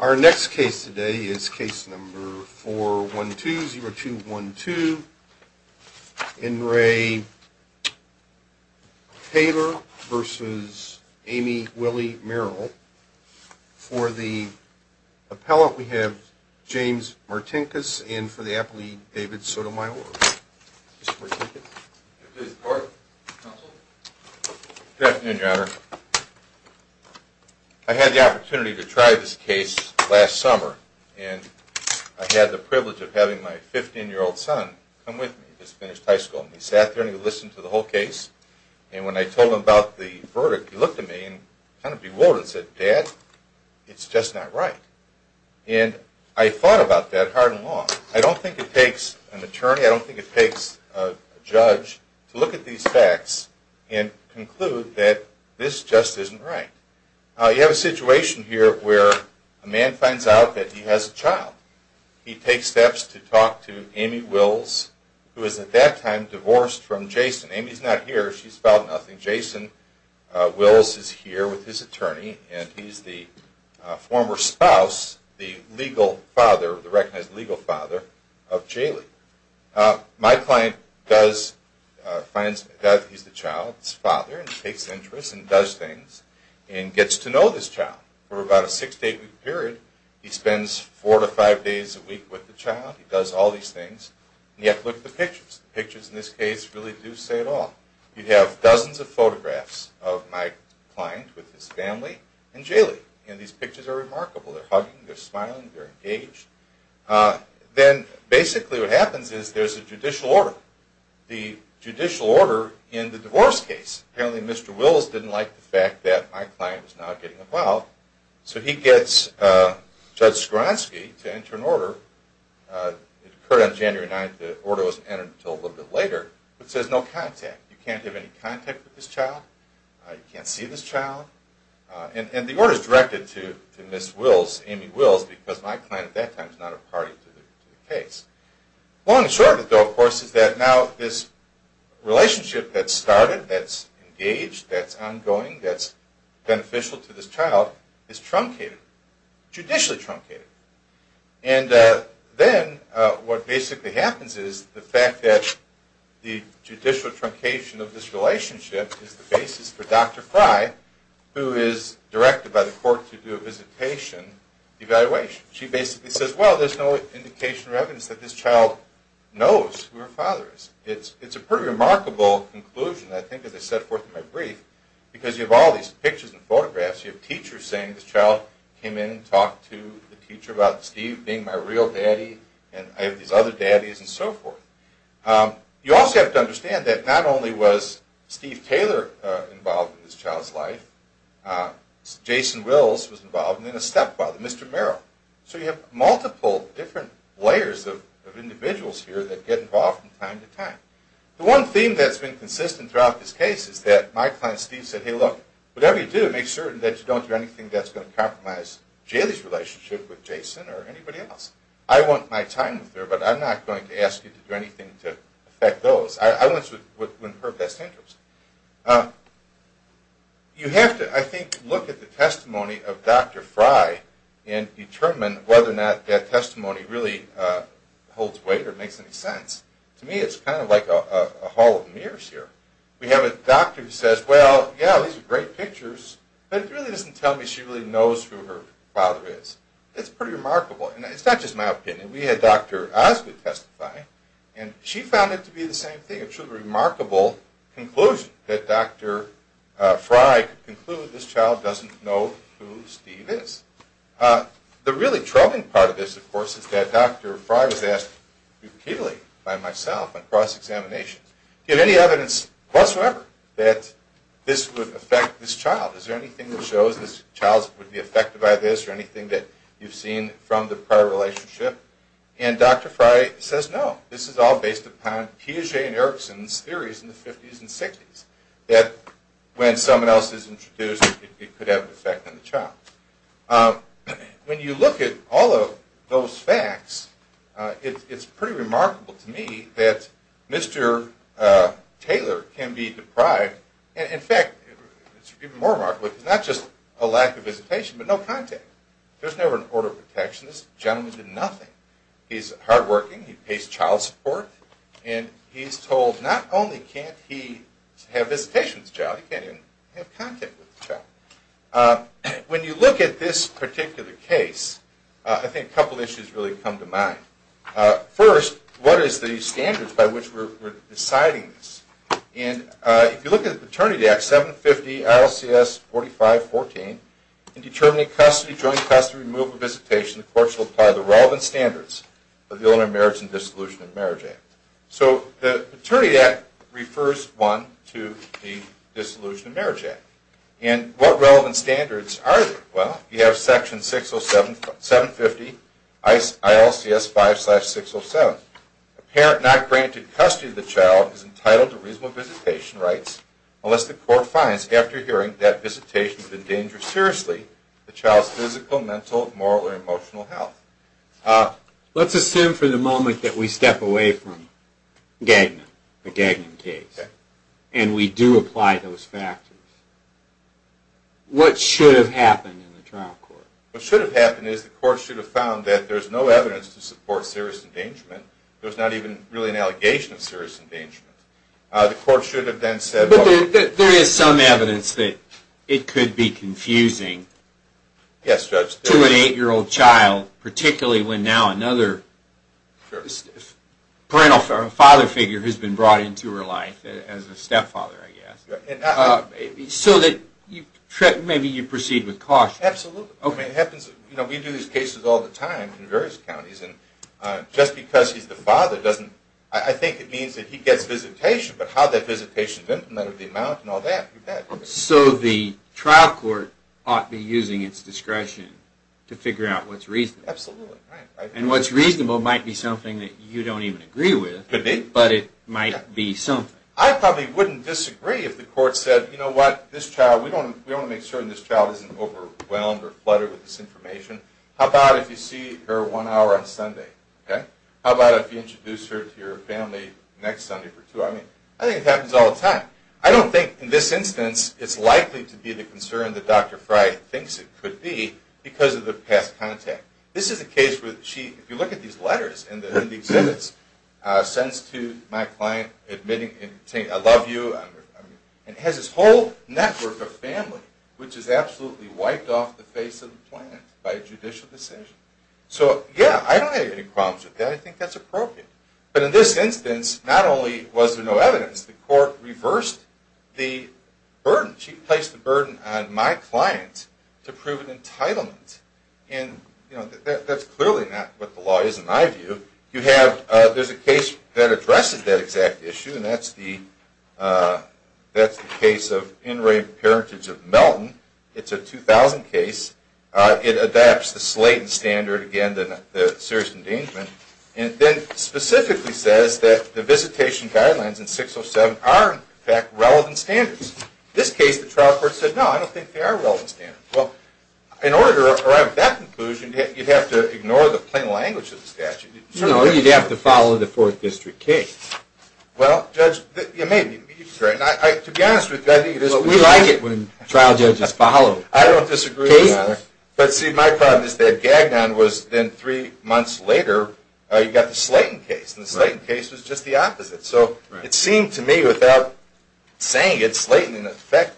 Our next case today is case number four one two zero two one two in Ray Taylor versus Amy Willie Merrill for the Appellant we have James Martin case and for the appellee David Sotomayor I Had the opportunity to try this case last summer and I had the privilege of having my 15 year old son I'm with me just finished high school He sat there and he listened to the whole case And when I told him about the verdict he looked at me and kind of bewildered said dad It's just not right and I thought about that hard and long. I don't think it takes an attorney I don't think it takes a judge to look at these facts and Conclude that this just isn't right you have a situation here where a man finds out that he has a child He takes steps to talk to Amy Wills who is at that time divorced from Jason Amy's not here. She's found nothing Jason Wills is here with his attorney, and he's the former spouse the legal father the recognized legal father of My client does Finds that he's the child's father and takes interest and does things and gets to know this child for about a six to eight week Period he spends four to five days a week with the child He does all these things and yet look at the pictures pictures in this case really do say at all You'd have dozens of photographs of my client with his family and Jaylee and these pictures are remarkable They're hugging. They're smiling. They're engaged Then basically what happens is there's a judicial order the Judicial order in the divorce case apparently mr. Wills didn't like the fact that my client is not getting involved so he gets Judge Skronsky to enter an order It occurred on January 9th the order was entered until a little bit later, but says no contact You can't have any contact with this child. I can't see this child And the order is directed to to miss Wills Amy Wills because my client at that time is not a party to the case Long and short though of course is that now this Relationship that started that's engaged. That's ongoing. That's beneficial to this child is truncated judicially truncated and then what basically happens is the fact that The judicial truncation of this relationship is the basis for dr. Fry Who is directed by the court to do a visitation? Evaluation she basically says well, there's no indication or evidence that this child knows who her father is it's it's a pretty remarkable Conclusion I think as I set forth in my brief Because you have all these pictures and photographs you have teachers saying this child came in and talked to the teacher about Steve being my Real daddy, and I have these other daddies and so forth You also have to understand that not only was Steve Taylor involved in this child's life Jason Wills was involved in a stepfather mr.. Merrill, so you have multiple different layers of Individuals here that get involved in time to time the one theme that's been consistent throughout this case Is that my client Steve said hey look whatever you do make certain that you don't do anything That's going to compromise Jaylee's relationship with Jason or anybody else I want my time with her, but I'm not going to ask you to do anything to affect those. I want to You have to I think look at the testimony of dr. Fry and Determine whether or not that testimony really Holds weight or makes any sense to me. It's kind of like a hall of mirrors here We have a doctor who says well yeah, these are great pictures, but it really doesn't tell me Knows who her father is it's pretty remarkable, and it's not just my opinion We had dr. Oz to testify and she found it to be the same thing. It's a remarkable conclusion that dr. Fry conclude this child doesn't know who Steve is The really troubling part of this of course is that dr. Fry was asked repeatedly by myself and cross-examination Give any evidence whatsoever that this would affect this child is there anything that shows this child would be affected by this or anything that You've seen from the prior relationship and dr. Fry says no this is all based upon Piaget and Erickson's theories in the 50s and 60s that When someone else is introduced it could have an effect on the child When you look at all of those facts It's pretty remarkable to me that mr. Taylor can be deprived and in fact More mark with not just a lack of visitation, but no contact. There's never an order of protection this gentleman did nothing He's hard-working. He pays child support, and he's told not only can't he have this patient's job When you look at this particular case, I think a couple issues really come to mind First what is the standards by which we're deciding this and if you look at the Paternity Act 750 ILCS 4514 In determining custody joint custody removal visitation the courts will apply the relevant standards of the Illinois marriage and Dissolution of Marriage Act So the Paternity Act refers one to the Dissolution of Marriage Act and what relevant standards are well You have section 607 750 ice ILCS 5 slash 607 a parent not granted custody of the child is entitled to reasonable visitation rights Unless the court finds after hearing that visitation has been dangerous seriously the child's physical mental moral or emotional health Let's assume for the moment that we step away from Gagnon the gagging case and we do apply those factors What should have happened in the trial court What should have happened is the court should have found that there's no evidence to support serious endangerment There's not even really an allegation of serious endangerment The court should have then said that there is some evidence that it could be confusing Yes, judge to an eight-year-old child particularly when now another Parental father figure has been brought into her life as a stepfather Maybe so that you check maybe you proceed with caution. Absolutely. Okay, it happens You know, we do these cases all the time in various counties and just because he's the father doesn't I think it means that he? Gets visitation, but how that visitation didn't matter the amount and all that So the trial court ought to be using its discretion to figure out what's reason And what's reasonable might be something that you don't even agree with but it might be something I probably wouldn't disagree if the court said, you know what this child we don't we don't make certain this child isn't overwhelmed or fluttered with this information How about if you see her one hour on Sunday? Okay, how about if you introduce her to your family next Sunday for two? I mean, I think it happens all the time. I don't think in this instance It's likely to be the concern that dr. Fry thinks it could be because of the past contact This is a case with she if you look at these letters and the exhibits Sends to my client admitting and saying I love you And has this whole network of family, which is absolutely wiped off the face of the planet by a judicial decision So yeah, I don't have any problems with that I think that's appropriate but in this instance, not only was there no evidence the court reversed the Burden she placed the burden on my client to prove an entitlement And you know that's clearly not what the law is in my view you have there's a case that addresses that exact issue and that's the That's the case of in rape parentage of Melton. It's a 2000 case It adapts the slate and standard again than the serious endangerment And then specifically says that the visitation guidelines in 607 are in fact relevant standards this case the trial court said no Well in order around that conclusion you'd have to ignore the plain language of the statute You know, you'd have to follow the fourth district case Well judge you may be To be honest with you. We like it when trial judges follow I don't disagree, but see my problem is that gagged on was then three months later You got the Slayton case and the Slayton case was just the opposite. So it seemed to me without Saying it's late in effect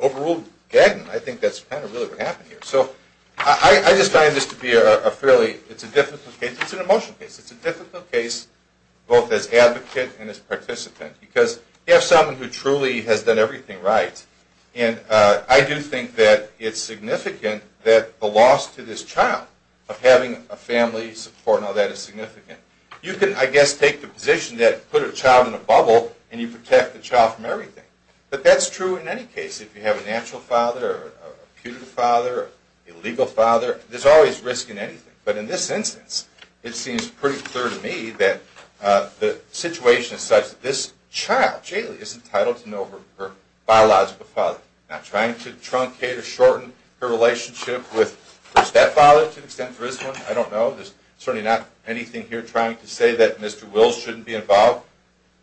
Overruled gagging I think that's kind of really what happened here, so I I just find this to be a fairly It's a difficult case. It's an emotional case It's a difficult case both as advocate and as participant because you have someone who truly has done everything, right? And I do think that it's significant that the loss to this child of having a family support No, that is significant You can I guess take the position that put a child in a bubble and you protect the child from everything But that's true in any case if you have a natural father putative father Illegal father there's always risk in anything, but in this instance. It seems pretty clear to me that The situation is such that this child Jailey is entitled to know her biological father I'm trying to truncate or shorten her relationship with her stepfather to the extent for this one I don't know. There's certainly not anything here trying to say that mr.. Will shouldn't be involved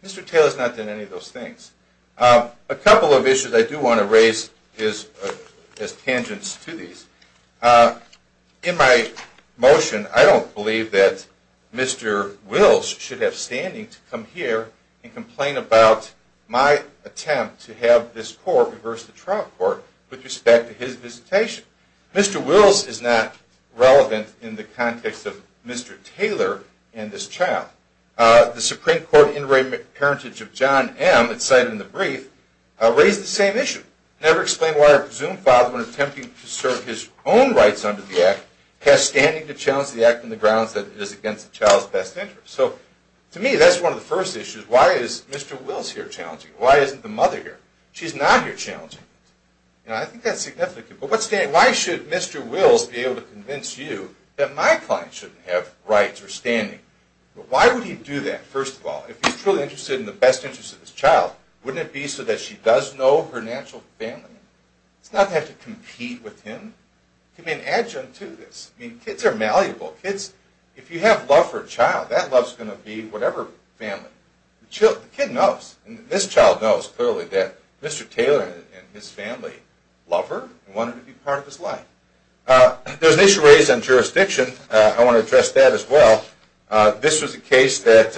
mr. Taylor's not in any of those things A couple of issues I do want to raise is as tangents to these in my Motion I don't believe that Mr.. Wills should have standing to come here and complain about My attempt to have this court reverse the trial court with respect to his visitation mr. Wills is not relevant in the context of mr. Taylor and this child The Supreme Court in Raymond parentage of John M It's cited in the brief Raised the same issue never explained why I presume father when attempting to serve his own rights under the act Has standing to challenge the act in the grounds that it is against the child's best interest so to me That's one of the first issues. Why is mr.. Wills here challenging? Why isn't the mother here? She's not here challenging You know I think that's significant, but what's day? Why should mr. Wills be able to convince you that my client shouldn't have rights or standing Why would he do that first of all if he's truly interested in the best interest of this child wouldn't it be so that she? Does know her natural family? It's not have to compete with him To be an adjunct to this mean kids are malleable kids if you have love for a child that loves going to be whatever Family the kid knows and this child knows clearly that mr.. Taylor and his family lover I wanted to be part of his life There's an issue raised on jurisdiction. I want to address that as well This was a case that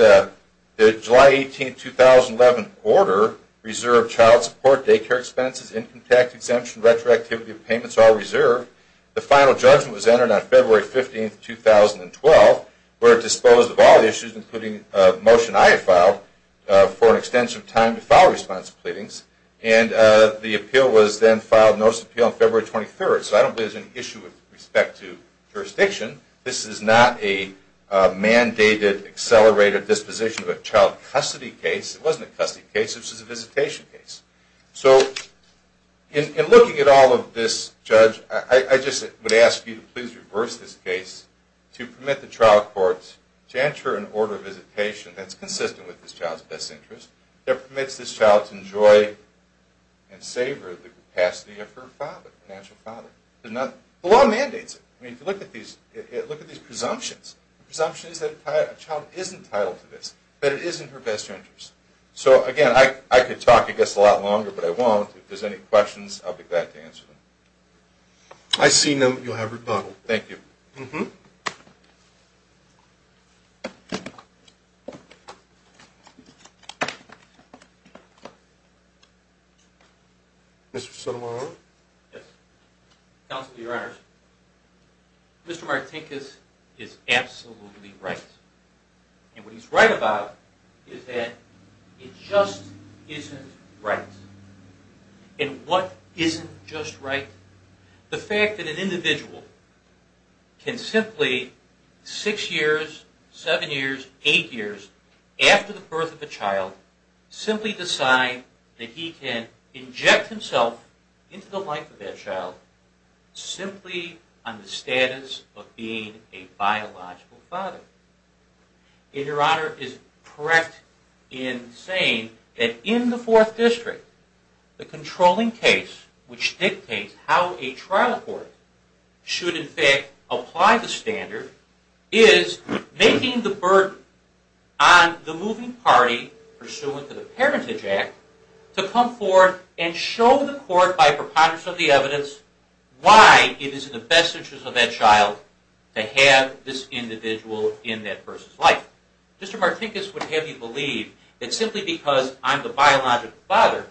the July 18th 2011 order reserved child support daycare expenses income tax exemption retroactivity of payments all reserved The final judgment was entered on February 15th 2012 where it disposed of all issues including motion I have filed for an extensive time to file response pleadings and The appeal was then filed notice appeal on February 23rd, so I don't believe there's an issue with respect to jurisdiction. This is not a Mandated accelerated disposition of a child custody case it wasn't a custody case. This is a visitation case so In looking at all of this judge. I just would ask you to please reverse this case To permit the trial courts to enter an order visitation. That's consistent with this child's best interest there permits this child to enjoy And savor the capacity of her father natural father did not the law mandates I mean if you look at these look at these presumptions presumptions that a child isn't titled to this But it isn't her best interest so again. I could talk it gets a lot longer, but I won't if there's any questions I'll be back to answer them I See them you'll have rebuttal. Thank you mm-hmm you Mr.. Sotomayor Council your honors Mr.. Martin case is absolutely right And what he's right about is that it just isn't right And what isn't just right the fact that an individual? Can simply six years seven years eight years after the birth of a child Simply decide that he can inject himself into the life of that child Simply on the status of being a biological father In your honor is correct in saying that in the fourth district The controlling case which dictates how a trial court should in fact apply the standard is Making the burden on The moving party pursuant to the parentage act to come forward and show the court by preponderance of the evidence Why it is in the best interest of that child to have this individual in that person's life Mr.. Martinkus would have you believe it's simply because I'm the biological father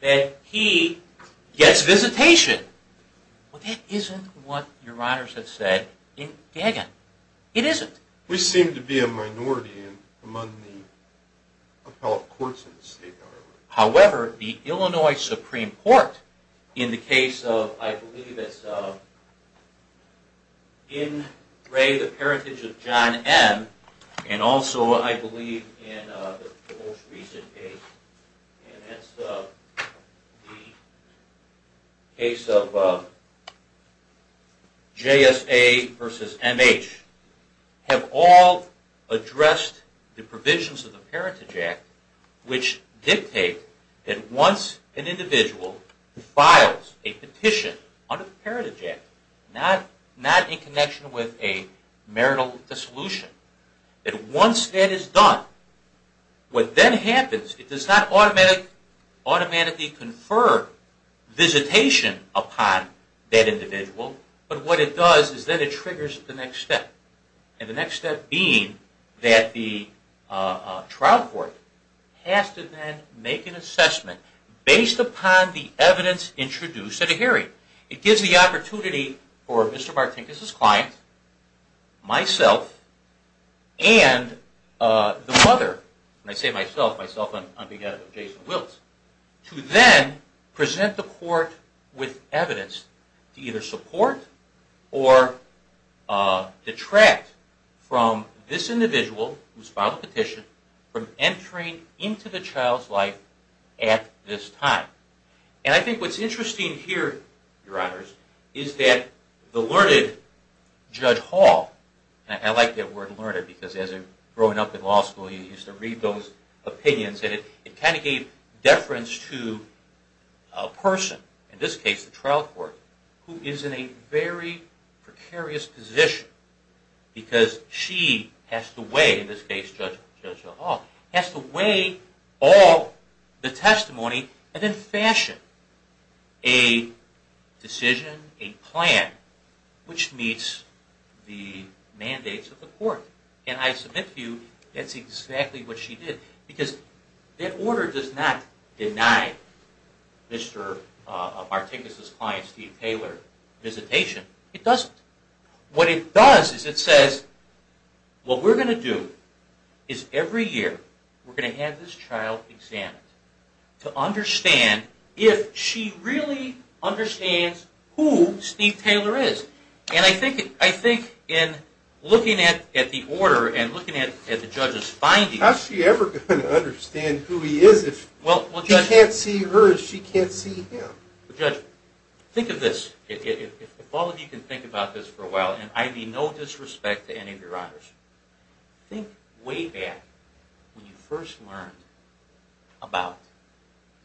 That he gets visitation Well, that isn't what your honors have said in Gaggin. It isn't we seem to be a minority among the appellate courts however the Illinois Supreme Court in the case of I believe it's In ray the parentage of John M. And also I believe in Case of JSA versus MH have all Addressed the provisions of the parentage act which dictate that once an individual Files a petition under the parentage act not not in connection with a marital dissolution That once that is done What then happens it does not automatic? automatically confer Visitation upon that individual, but what it does is that it triggers the next step and the next step being that the Trial court has to then make an assessment Based upon the evidence introduced at a hearing it gives the opportunity for mr.. Martin. This is client myself and The mother when I say myself myself on behalf of Jason Wiltz to then present the court with evidence to either support or Detract from This individual who's filed a petition from entering into the child's life at this time And I think what's interesting here your honors is that the learned? Judge Hall, and I like that word learned because as a growing up in law school you used to read those Opinions that it kind of gave deference to a Person in this case the trial court who is in a very Precarious position Because she has to weigh in this case judge judge at all has to weigh all the testimony and then fashion a Decision a plan which meets the Mandates of the court, and I submit to you. That's exactly what she did because that order does not deny Mr.. Articus's client Steve Taylor Visitation it doesn't what it does is it says? What we're going to do is every year. We're going to have this child examined to understand if she really understands who Steve Taylor is and I think I think in Looking at at the order and looking at the judge's findings She ever could understand who he is if well what you can't see her as she can't see him judge Think of this if all of you can think about this for a while, and I mean no disrespect to any of your honors Think way back when you first learned about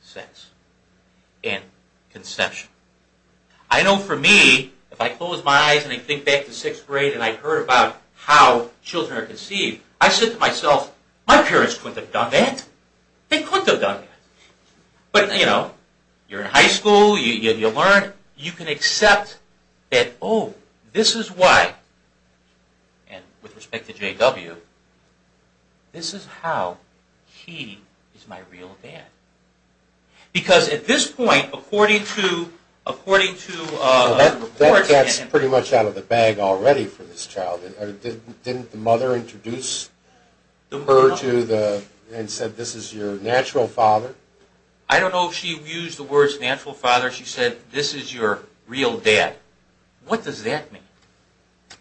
sex and Conception I Know for me if I close my eyes, and I think back to sixth grade and I heard about how children are conceived I said to myself my parents couldn't have done that they couldn't have done But you know you're in high school. You learn you can accept that. Oh, this is why and with respect to JW This is how he is my real dad because at this point according to according to That's pretty much out of the bag already for this child didn't the mother introduce The murder to the and said this is your natural father. I don't know if she used the words natural father She said this is your real dad. What does that mean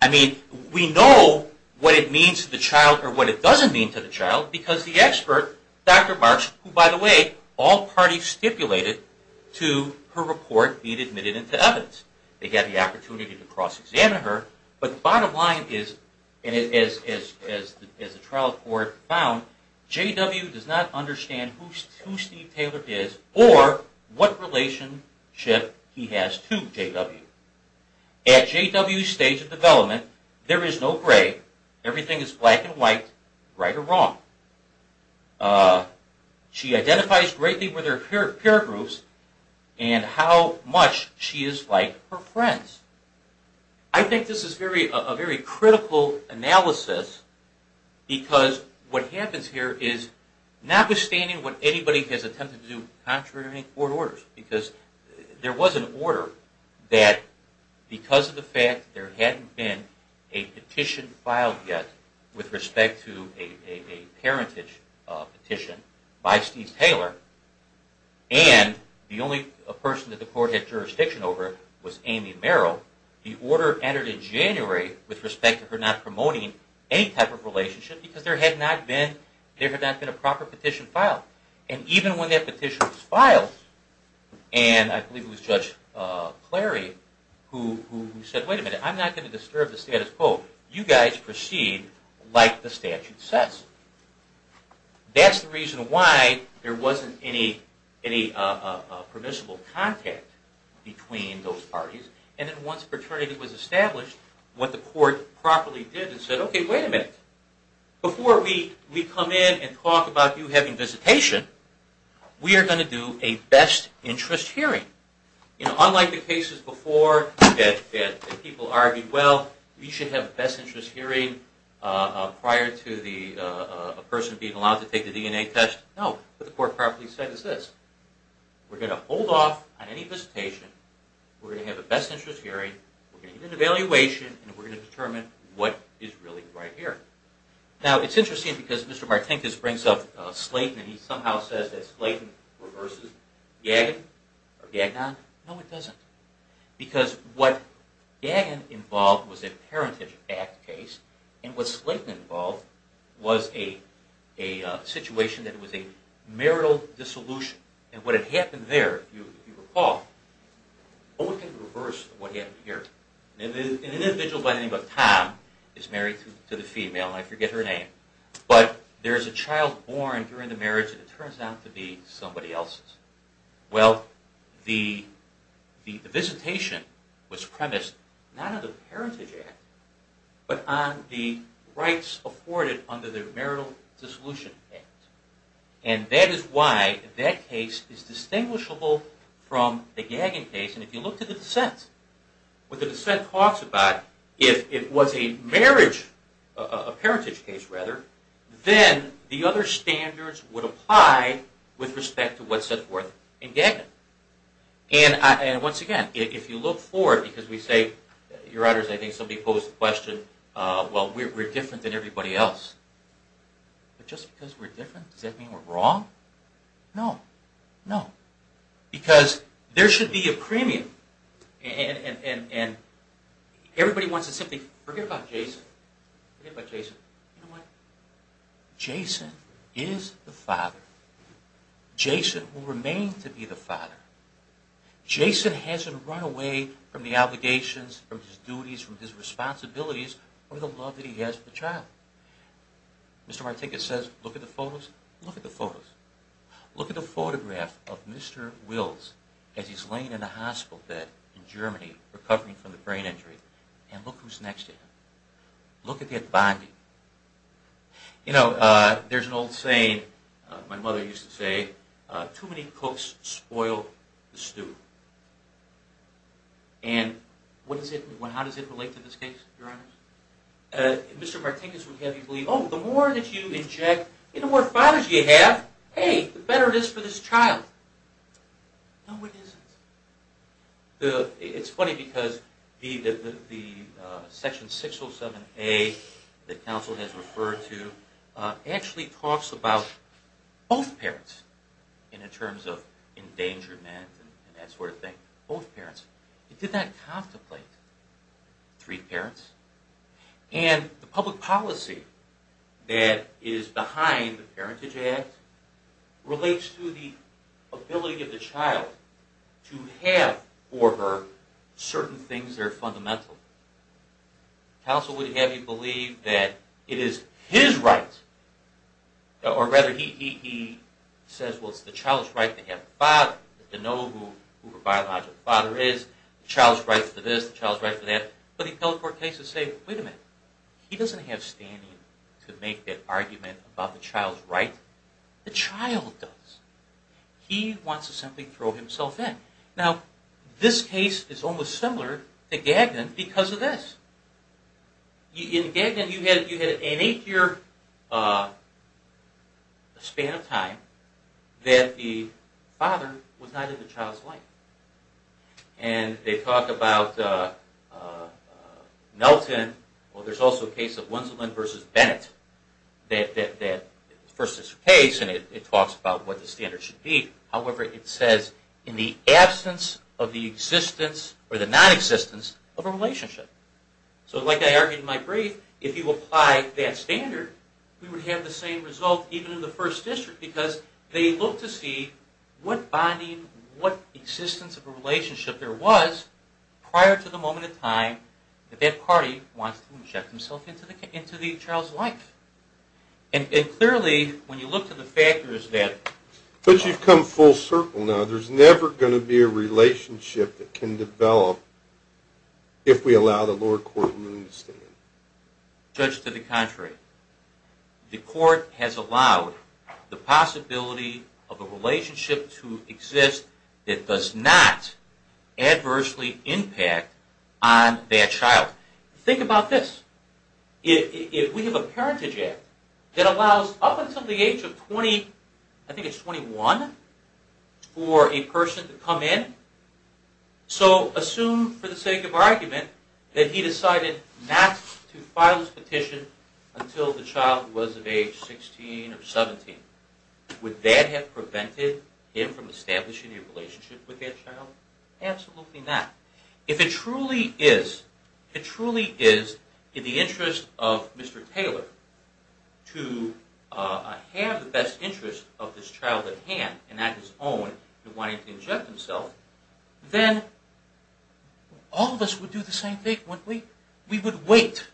I? Mean we know what it means to the child or what it doesn't mean to the child because the expert dr. By the way all parties stipulated to her report being admitted into evidence They had the opportunity to cross-examine her, but the bottom line is and it is as the trial court found Jw. Does not understand who's who Steve Taylor is or what relation ship he has to Jw At Jw. Stage of development there is no gray everything is black and white right or wrong She identifies greatly with her peer peer groups, and how much she is like her friends I Think this is very a very critical analysis because what happens here is not withstanding what anybody has attempted to do contrary or orders because there was an order that because of the fact there hadn't been a petition filed yet with respect to a parentage petition by Steve Taylor and The only a person that the court had jurisdiction over was Amy Merrill the order entered in January with respect to her not promoting Any type of relationship because there had not been there had not been a proper petition filed and even when that petition was filed And I believe it was judge Clary who said wait a minute. I'm not going to disturb the status quo you guys proceed like the statute says That's the reason why there wasn't any any permissible contact Between those parties and then once a fraternity was established what the court properly did and said okay wait a minute Before we we come in and talk about you having visitation We are going to do a best interest hearing You know unlike the cases before that people argued. Well. We should have a best interest hearing Prior to the Person being allowed to take the DNA test no, but the court properly said is this We're going to hold off on any visitation. We're going to have a best interest hearing Evaluation and we're going to determine. What is really right here now. It's interesting because mr. Martinkus brings up Slayton, and he somehow says that Slayton Yeah Yeah, no it doesn't Because what Dan involved was a parentage act case and what Slayton involved was a a Situation that was a marital dissolution and what had happened there you recall What we can reverse what happened here an individual by the name of Tom is married to the female I forget her name, but there's a child born during the marriage and it turns out to be somebody else's well the The visitation was premised none of the parentage act but on the rights afforded under the marital dissolution and That is why that case is distinguishable from the gagging case, and if you look to the dissent What the dissent talks about if it was a marriage a parentage case rather then the other standards would apply with respect to what's it worth in gagging and Once again if you look for it because we say your honors. I think somebody posed the question Well, we're different than everybody else But just because we're different does that mean we're wrong No, no because there should be a premium and Everybody wants to simply forget about Jason Jason is the father Jason will remain to be the father Jason hasn't run away from the obligations from his duties from his responsibilities or the love that he has the child Mr.. Martinkus says look at the photos look at the photos Look at the photograph of mr. Wills as he's laying in a hospital bed in Germany recovering from the brain injury and look who's next to him Look at that body You know there's an old saying My mother used to say too many cooks spoil the stew and What does it when how does it relate to this case your honor? Mr.. Martinkus would have you believe. Oh the more that you inject in the more fathers you have hey the better it is for this child No, it isn't the it's funny because the the section 607 a the council has referred to Actually talks about both parents and in terms of Endangerment and that sort of thing both parents it did that contemplate three parents and the public policy That is behind the Parentage Act relates to the ability of the child To have for her certain things. They're fundamental The council would have you believe that it is his right Or rather he he says well It's the child's right to have Bob to know who the biological father is Child's right for this child's right for that, but he teleport cases say wait a minute He doesn't have standing to make that argument about the child's right the child does He wants to simply throw himself in now This case is almost similar to Gagnon because of this In Gagnon you had you had an eight-year Span of time that the father was not in the child's life, and they talked about Melton well there's also a case of Winslow and versus Bennett That that that first is case and it talks about what the standard should be however it says in the absence of Existence or the non-existence of a relationship So like I argued my brief if you apply that standard We would have the same result even in the first district because they look to see what bonding what? existence of a relationship there was prior to the moment of time that that party wants to inject himself into the into the child's life and Clearly when you look to the factors that but you've come full circle now There's never going to be a relationship that can develop If we allow the lower court Judge to the contrary The court has allowed the possibility of a relationship to exist it does not adversely impact on Their child think about this If we have a parentage act that allows up until the age of 20, I think it's 21 For a person to come in So assume for the sake of argument that he decided not to file his petition Until the child was of age 16 or 17 Would that have prevented him from establishing a relationship with their child? Absolutely not if it truly is it truly is in the interest of mr.. Taylor to Have the best interest of this child at hand and at his own and wanting to inject himself then All of us would do the same thing what we we would wait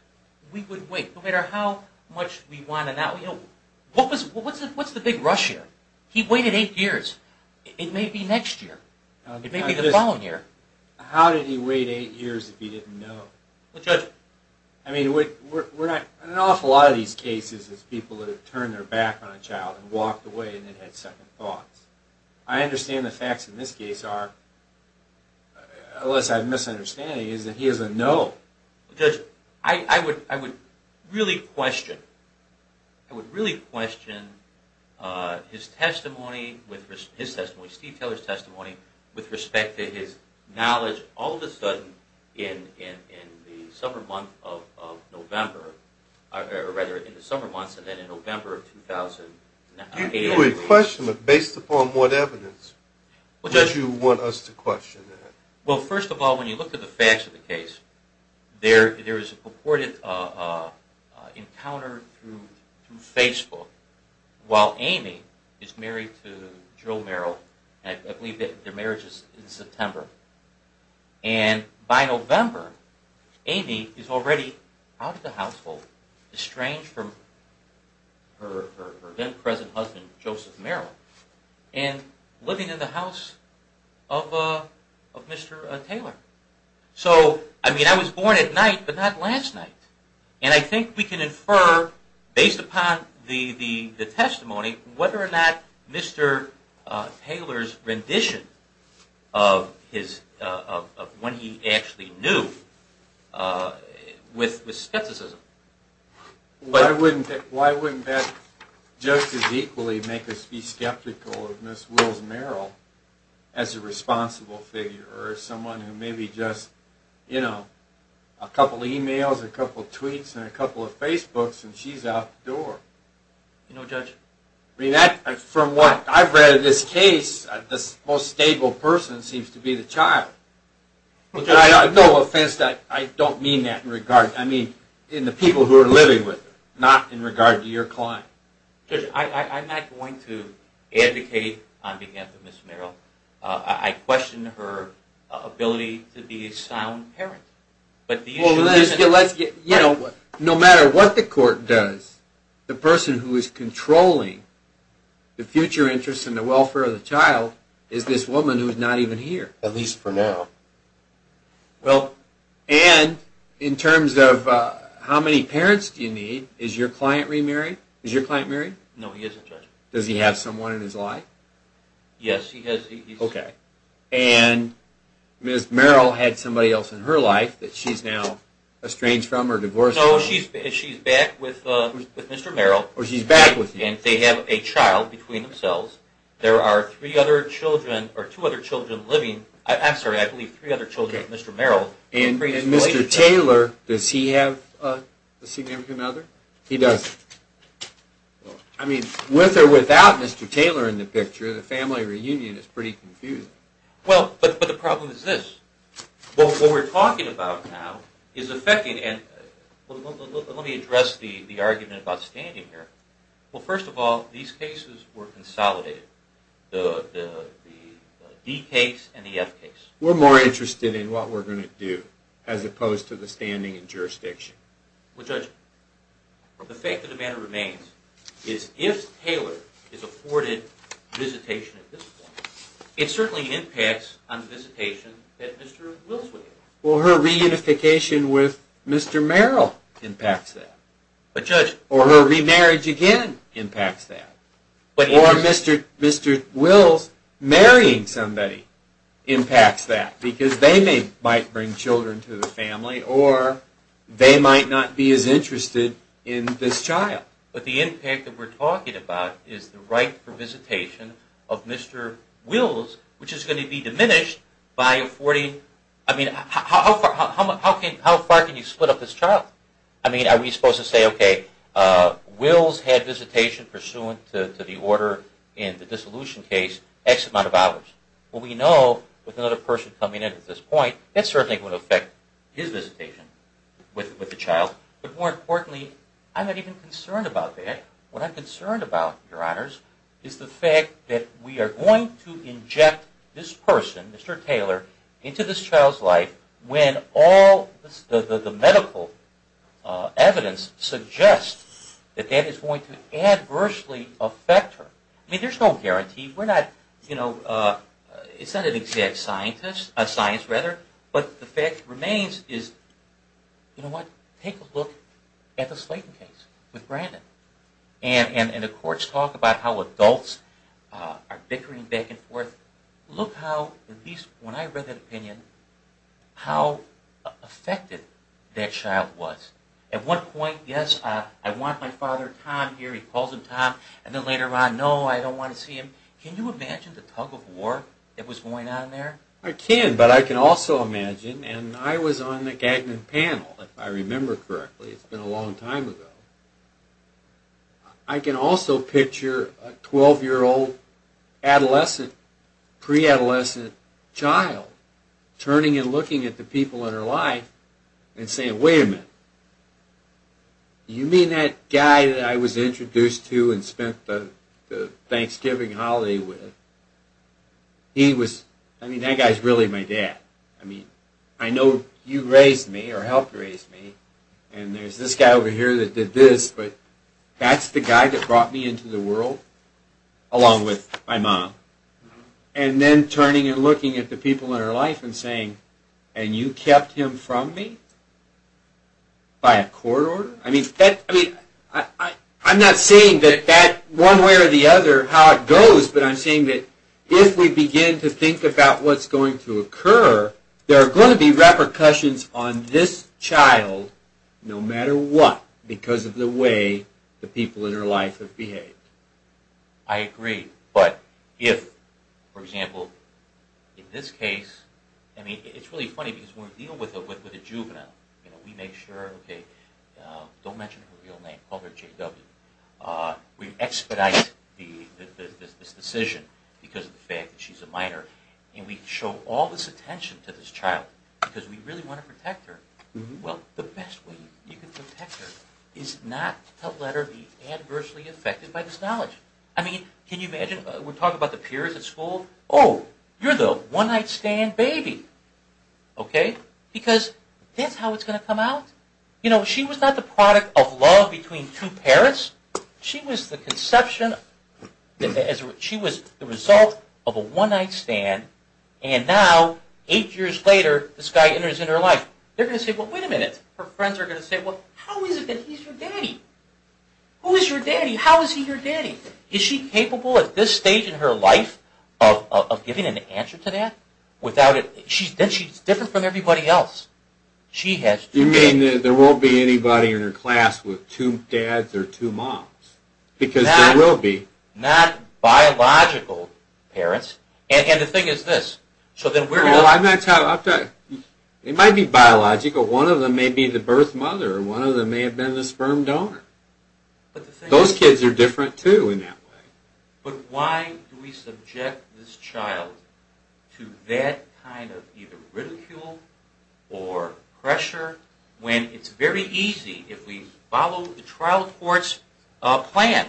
We would wait no matter how much we want to know what was what's it? What's the big rush here? He waited eight years it may be next year. It may be the following year How did he wait eight years if he didn't know what judge? I mean we're not an awful lot of these cases as people that have turned their back on a child and walked away and it Had second thoughts I understand the facts in this case are Unless I'm misunderstanding is that he is a no judge. I I would I would really question I Would really question His testimony with his testimony Steve Taylor's testimony with respect to his knowledge all of a sudden in The summer month of November rather in the summer months and then in November of 2008 question but based upon what evidence What does you want us to question that well first of all when you look at the facts of the case? There there is a purported encounter through Facebook while Amy is married to drill Merrill, and I believe that their marriage is in September and by November Amy is already out of the household estranged from her then present husband Joseph Merrill and living in the house of Mr.. Taylor So I mean I was born at night, but not last night And I think we can infer based upon the the the testimony whether or not mr. Taylor's rendition of his When he actually knew With with skepticism But I wouldn't why wouldn't that Justice equally make us be skeptical of miss wills Merrill as a responsible figure or someone who maybe just You know a couple emails a couple tweets and a couple of Facebook's and she's out the door You know judge me that from what I've read this case This most stable person seems to be the child Okay, I've no offense that I don't mean that in regard I mean in the people who are living with not in regard to your client I'm not going to Advocate on behalf of mr.. Merrill. I questioned her Ability to be a sound parent, but let's get you know what no matter what the court does the person who is controlling The future interest in the welfare of the child is this woman who is not even here at least for now well and In terms of how many parents do you need is your client remarried is your client married? No, he isn't does he have someone in his life? yes, he has okay and Miss Merrill had somebody else in her life that she's now estranged from her divorce. Oh, she's she's back with Mr.. Merrill or she's back with you, and they have a child between themselves There are three other children or two other children living. I'm sorry. I believe three other children mr.. Merrill and Mr.. Taylor does he have a significant other he does I? Mean with or without mr.. Taylor in the picture the family reunion is pretty confused well, but the problem is this Well what we're talking about now is affecting and Let me address the the argument about standing here well first of all these cases were consolidated the D case and the F case we're more interested in what we're going to do as opposed to the standing and jurisdiction well judge The fact of the matter remains is if Taylor is afforded visitation It certainly impacts on the visitation Well her reunification with mr.. Merrill impacts that but judge or her remarriage again Impacts that but or mr.. Mr.. Wills marrying somebody impacts that because they may might bring children to the family or They might not be as interested in this child, but the impact that we're talking about is the right for visitation of Mr.. Wills which is going to be diminished by a 40. I mean how far can you split up this child? I mean are we supposed to say okay? Wills had visitation pursuant to the order in the dissolution case X amount of hours Well, we know with another person coming in at this point. It certainly would affect his visitation with the child But more importantly I'm not even concerned about that what I'm concerned about your honors Is the fact that we are going to inject this person mr. Taylor into this child's life when all the medical Evidence suggests that that is going to adversely affect her. I mean there's no guarantee. We're not you know It's not an exact scientist a science rather, but the fact remains is You know what take a look at the Slayton case with Brandon and and in the courts talk about how adults Are bickering back and forth look how at least when I read that opinion? how Affected that child was at one point. Yes. I want my father time here He calls him Tom and then later on no I don't want to see him can you imagine the tug-of-war that was going on there? I can but I can also imagine and I was on the Gagnon panel if I remember correctly it's been a long time ago I Can also picture a 12 year old adolescent pre-adolescent child Turning and looking at the people in her life and saying wait a minute You mean that guy that I was introduced to and spent the Thanksgiving holiday with He was I mean that guy's really my dad I mean, I know you raised me or helped raise me, and there's this guy over here that did this But that's the guy that brought me into the world along with my mom and Then turning and looking at the people in her life and saying and you kept him from me By a court order I mean that I mean That that one way or the other how it goes But I'm saying that if we begin to think about what's going to occur there are going to be repercussions on this child No matter what because of the way the people in her life have behaved I Agree, but if for example In this case. I mean, it's really funny because we deal with it with a juvenile. You know we make sure okay Don't mention her real name called her JW We expedite this decision because of the fact that she's a minor And we show all this attention to this child because we really want to protect her Well the best way you can protect her is not to let her be adversely affected by this knowledge I mean can you imagine we're talking about the peers at school. Oh, you're the one-night stand, baby Okay, because that's how it's going to come out. You know she was not the product of love between two parents She was the conception As she was the result of a one-night stand and now eight years later This guy enters in her life. They're gonna say well wait a minute her friends are gonna say well Who is your daddy, how is he your daddy is she capable at this stage in her life of Giving an answer to that without it. She's been she's different from everybody else She has you mean there won't be anybody in her class with two dads or two moms Because I will be not Biological parents and the thing is this so then we're gonna lie that's how I'll tell you It might be biological one of them may be the birth mother one of them may have been the sperm donor Those kids are different too in that way, but why? To that kind of either ridicule or Pressure when it's very easy if we follow the trial courts Plan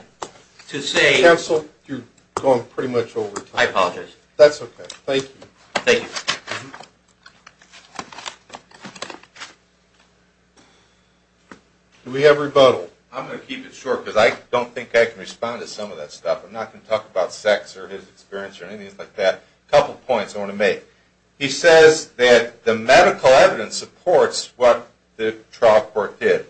to say that's all you're going pretty much over. I apologize. That's okay. Thank you. Thank you We have rebuttal I'm gonna keep it short because I don't think I can respond to some of that stuff I'm not gonna talk about sex or his experience or anything like that a couple points I want to make he says that the medical evidence supports what the trial court did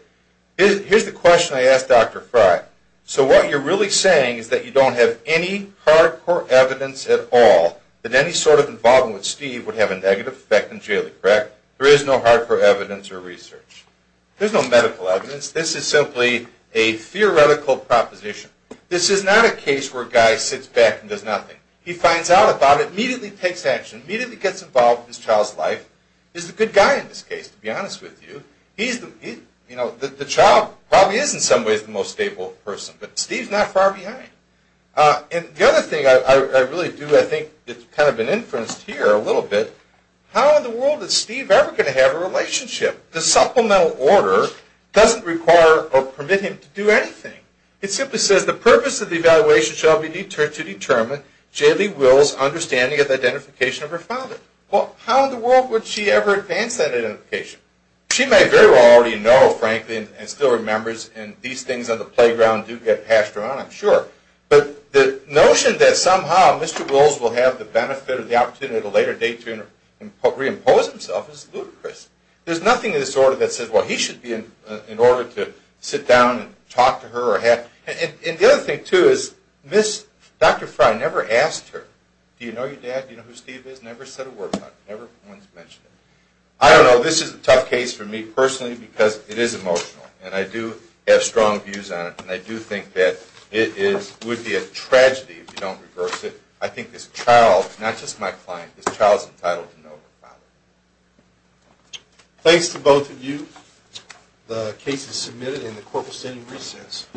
Here's the question I asked dr. Frye So what you're really saying is that you don't have any Hardcore evidence at all that any sort of involvement with Steve would have a negative effect in jaily crack There is no hard for evidence or research. There's no medical evidence. This is simply a Guy sits back and does nothing he finds out about it immediately takes action immediately gets involved his child's life Is the good guy in this case to be honest with you? He's the you know that the child probably is in some ways the most stable person, but Steve's not far behind And the other thing I really do I think it's kind of an inference here a little bit How in the world is Steve ever going to have a relationship the supplemental order doesn't require or permit him to do anything? It simply says the purpose of the evaluation shall be deterred to determine Jaily wills understanding of identification of her father well how in the world would she ever advance that identification? She may very well already know frankly and still remembers and these things on the playground do get passed around I'm sure but the notion that somehow mr. Wills will have the benefit of the opportunity at a later date to and what reimpose himself as ludicrous There's nothing in this order that says well He should be in in order to sit down and talk to her or have and the other thing too is miss Dr.. Fry never asked her. Do you know your dad? You know who Steve is never said a word about never once mentioned it I don't know This is a tough case for me personally because it is emotional and I do Have strong views on it, and I do think that it is would be a tragedy if you don't reverse it I think this child not just my client this child's entitled to know Thanks to both of you the case is submitted in the corpus any recess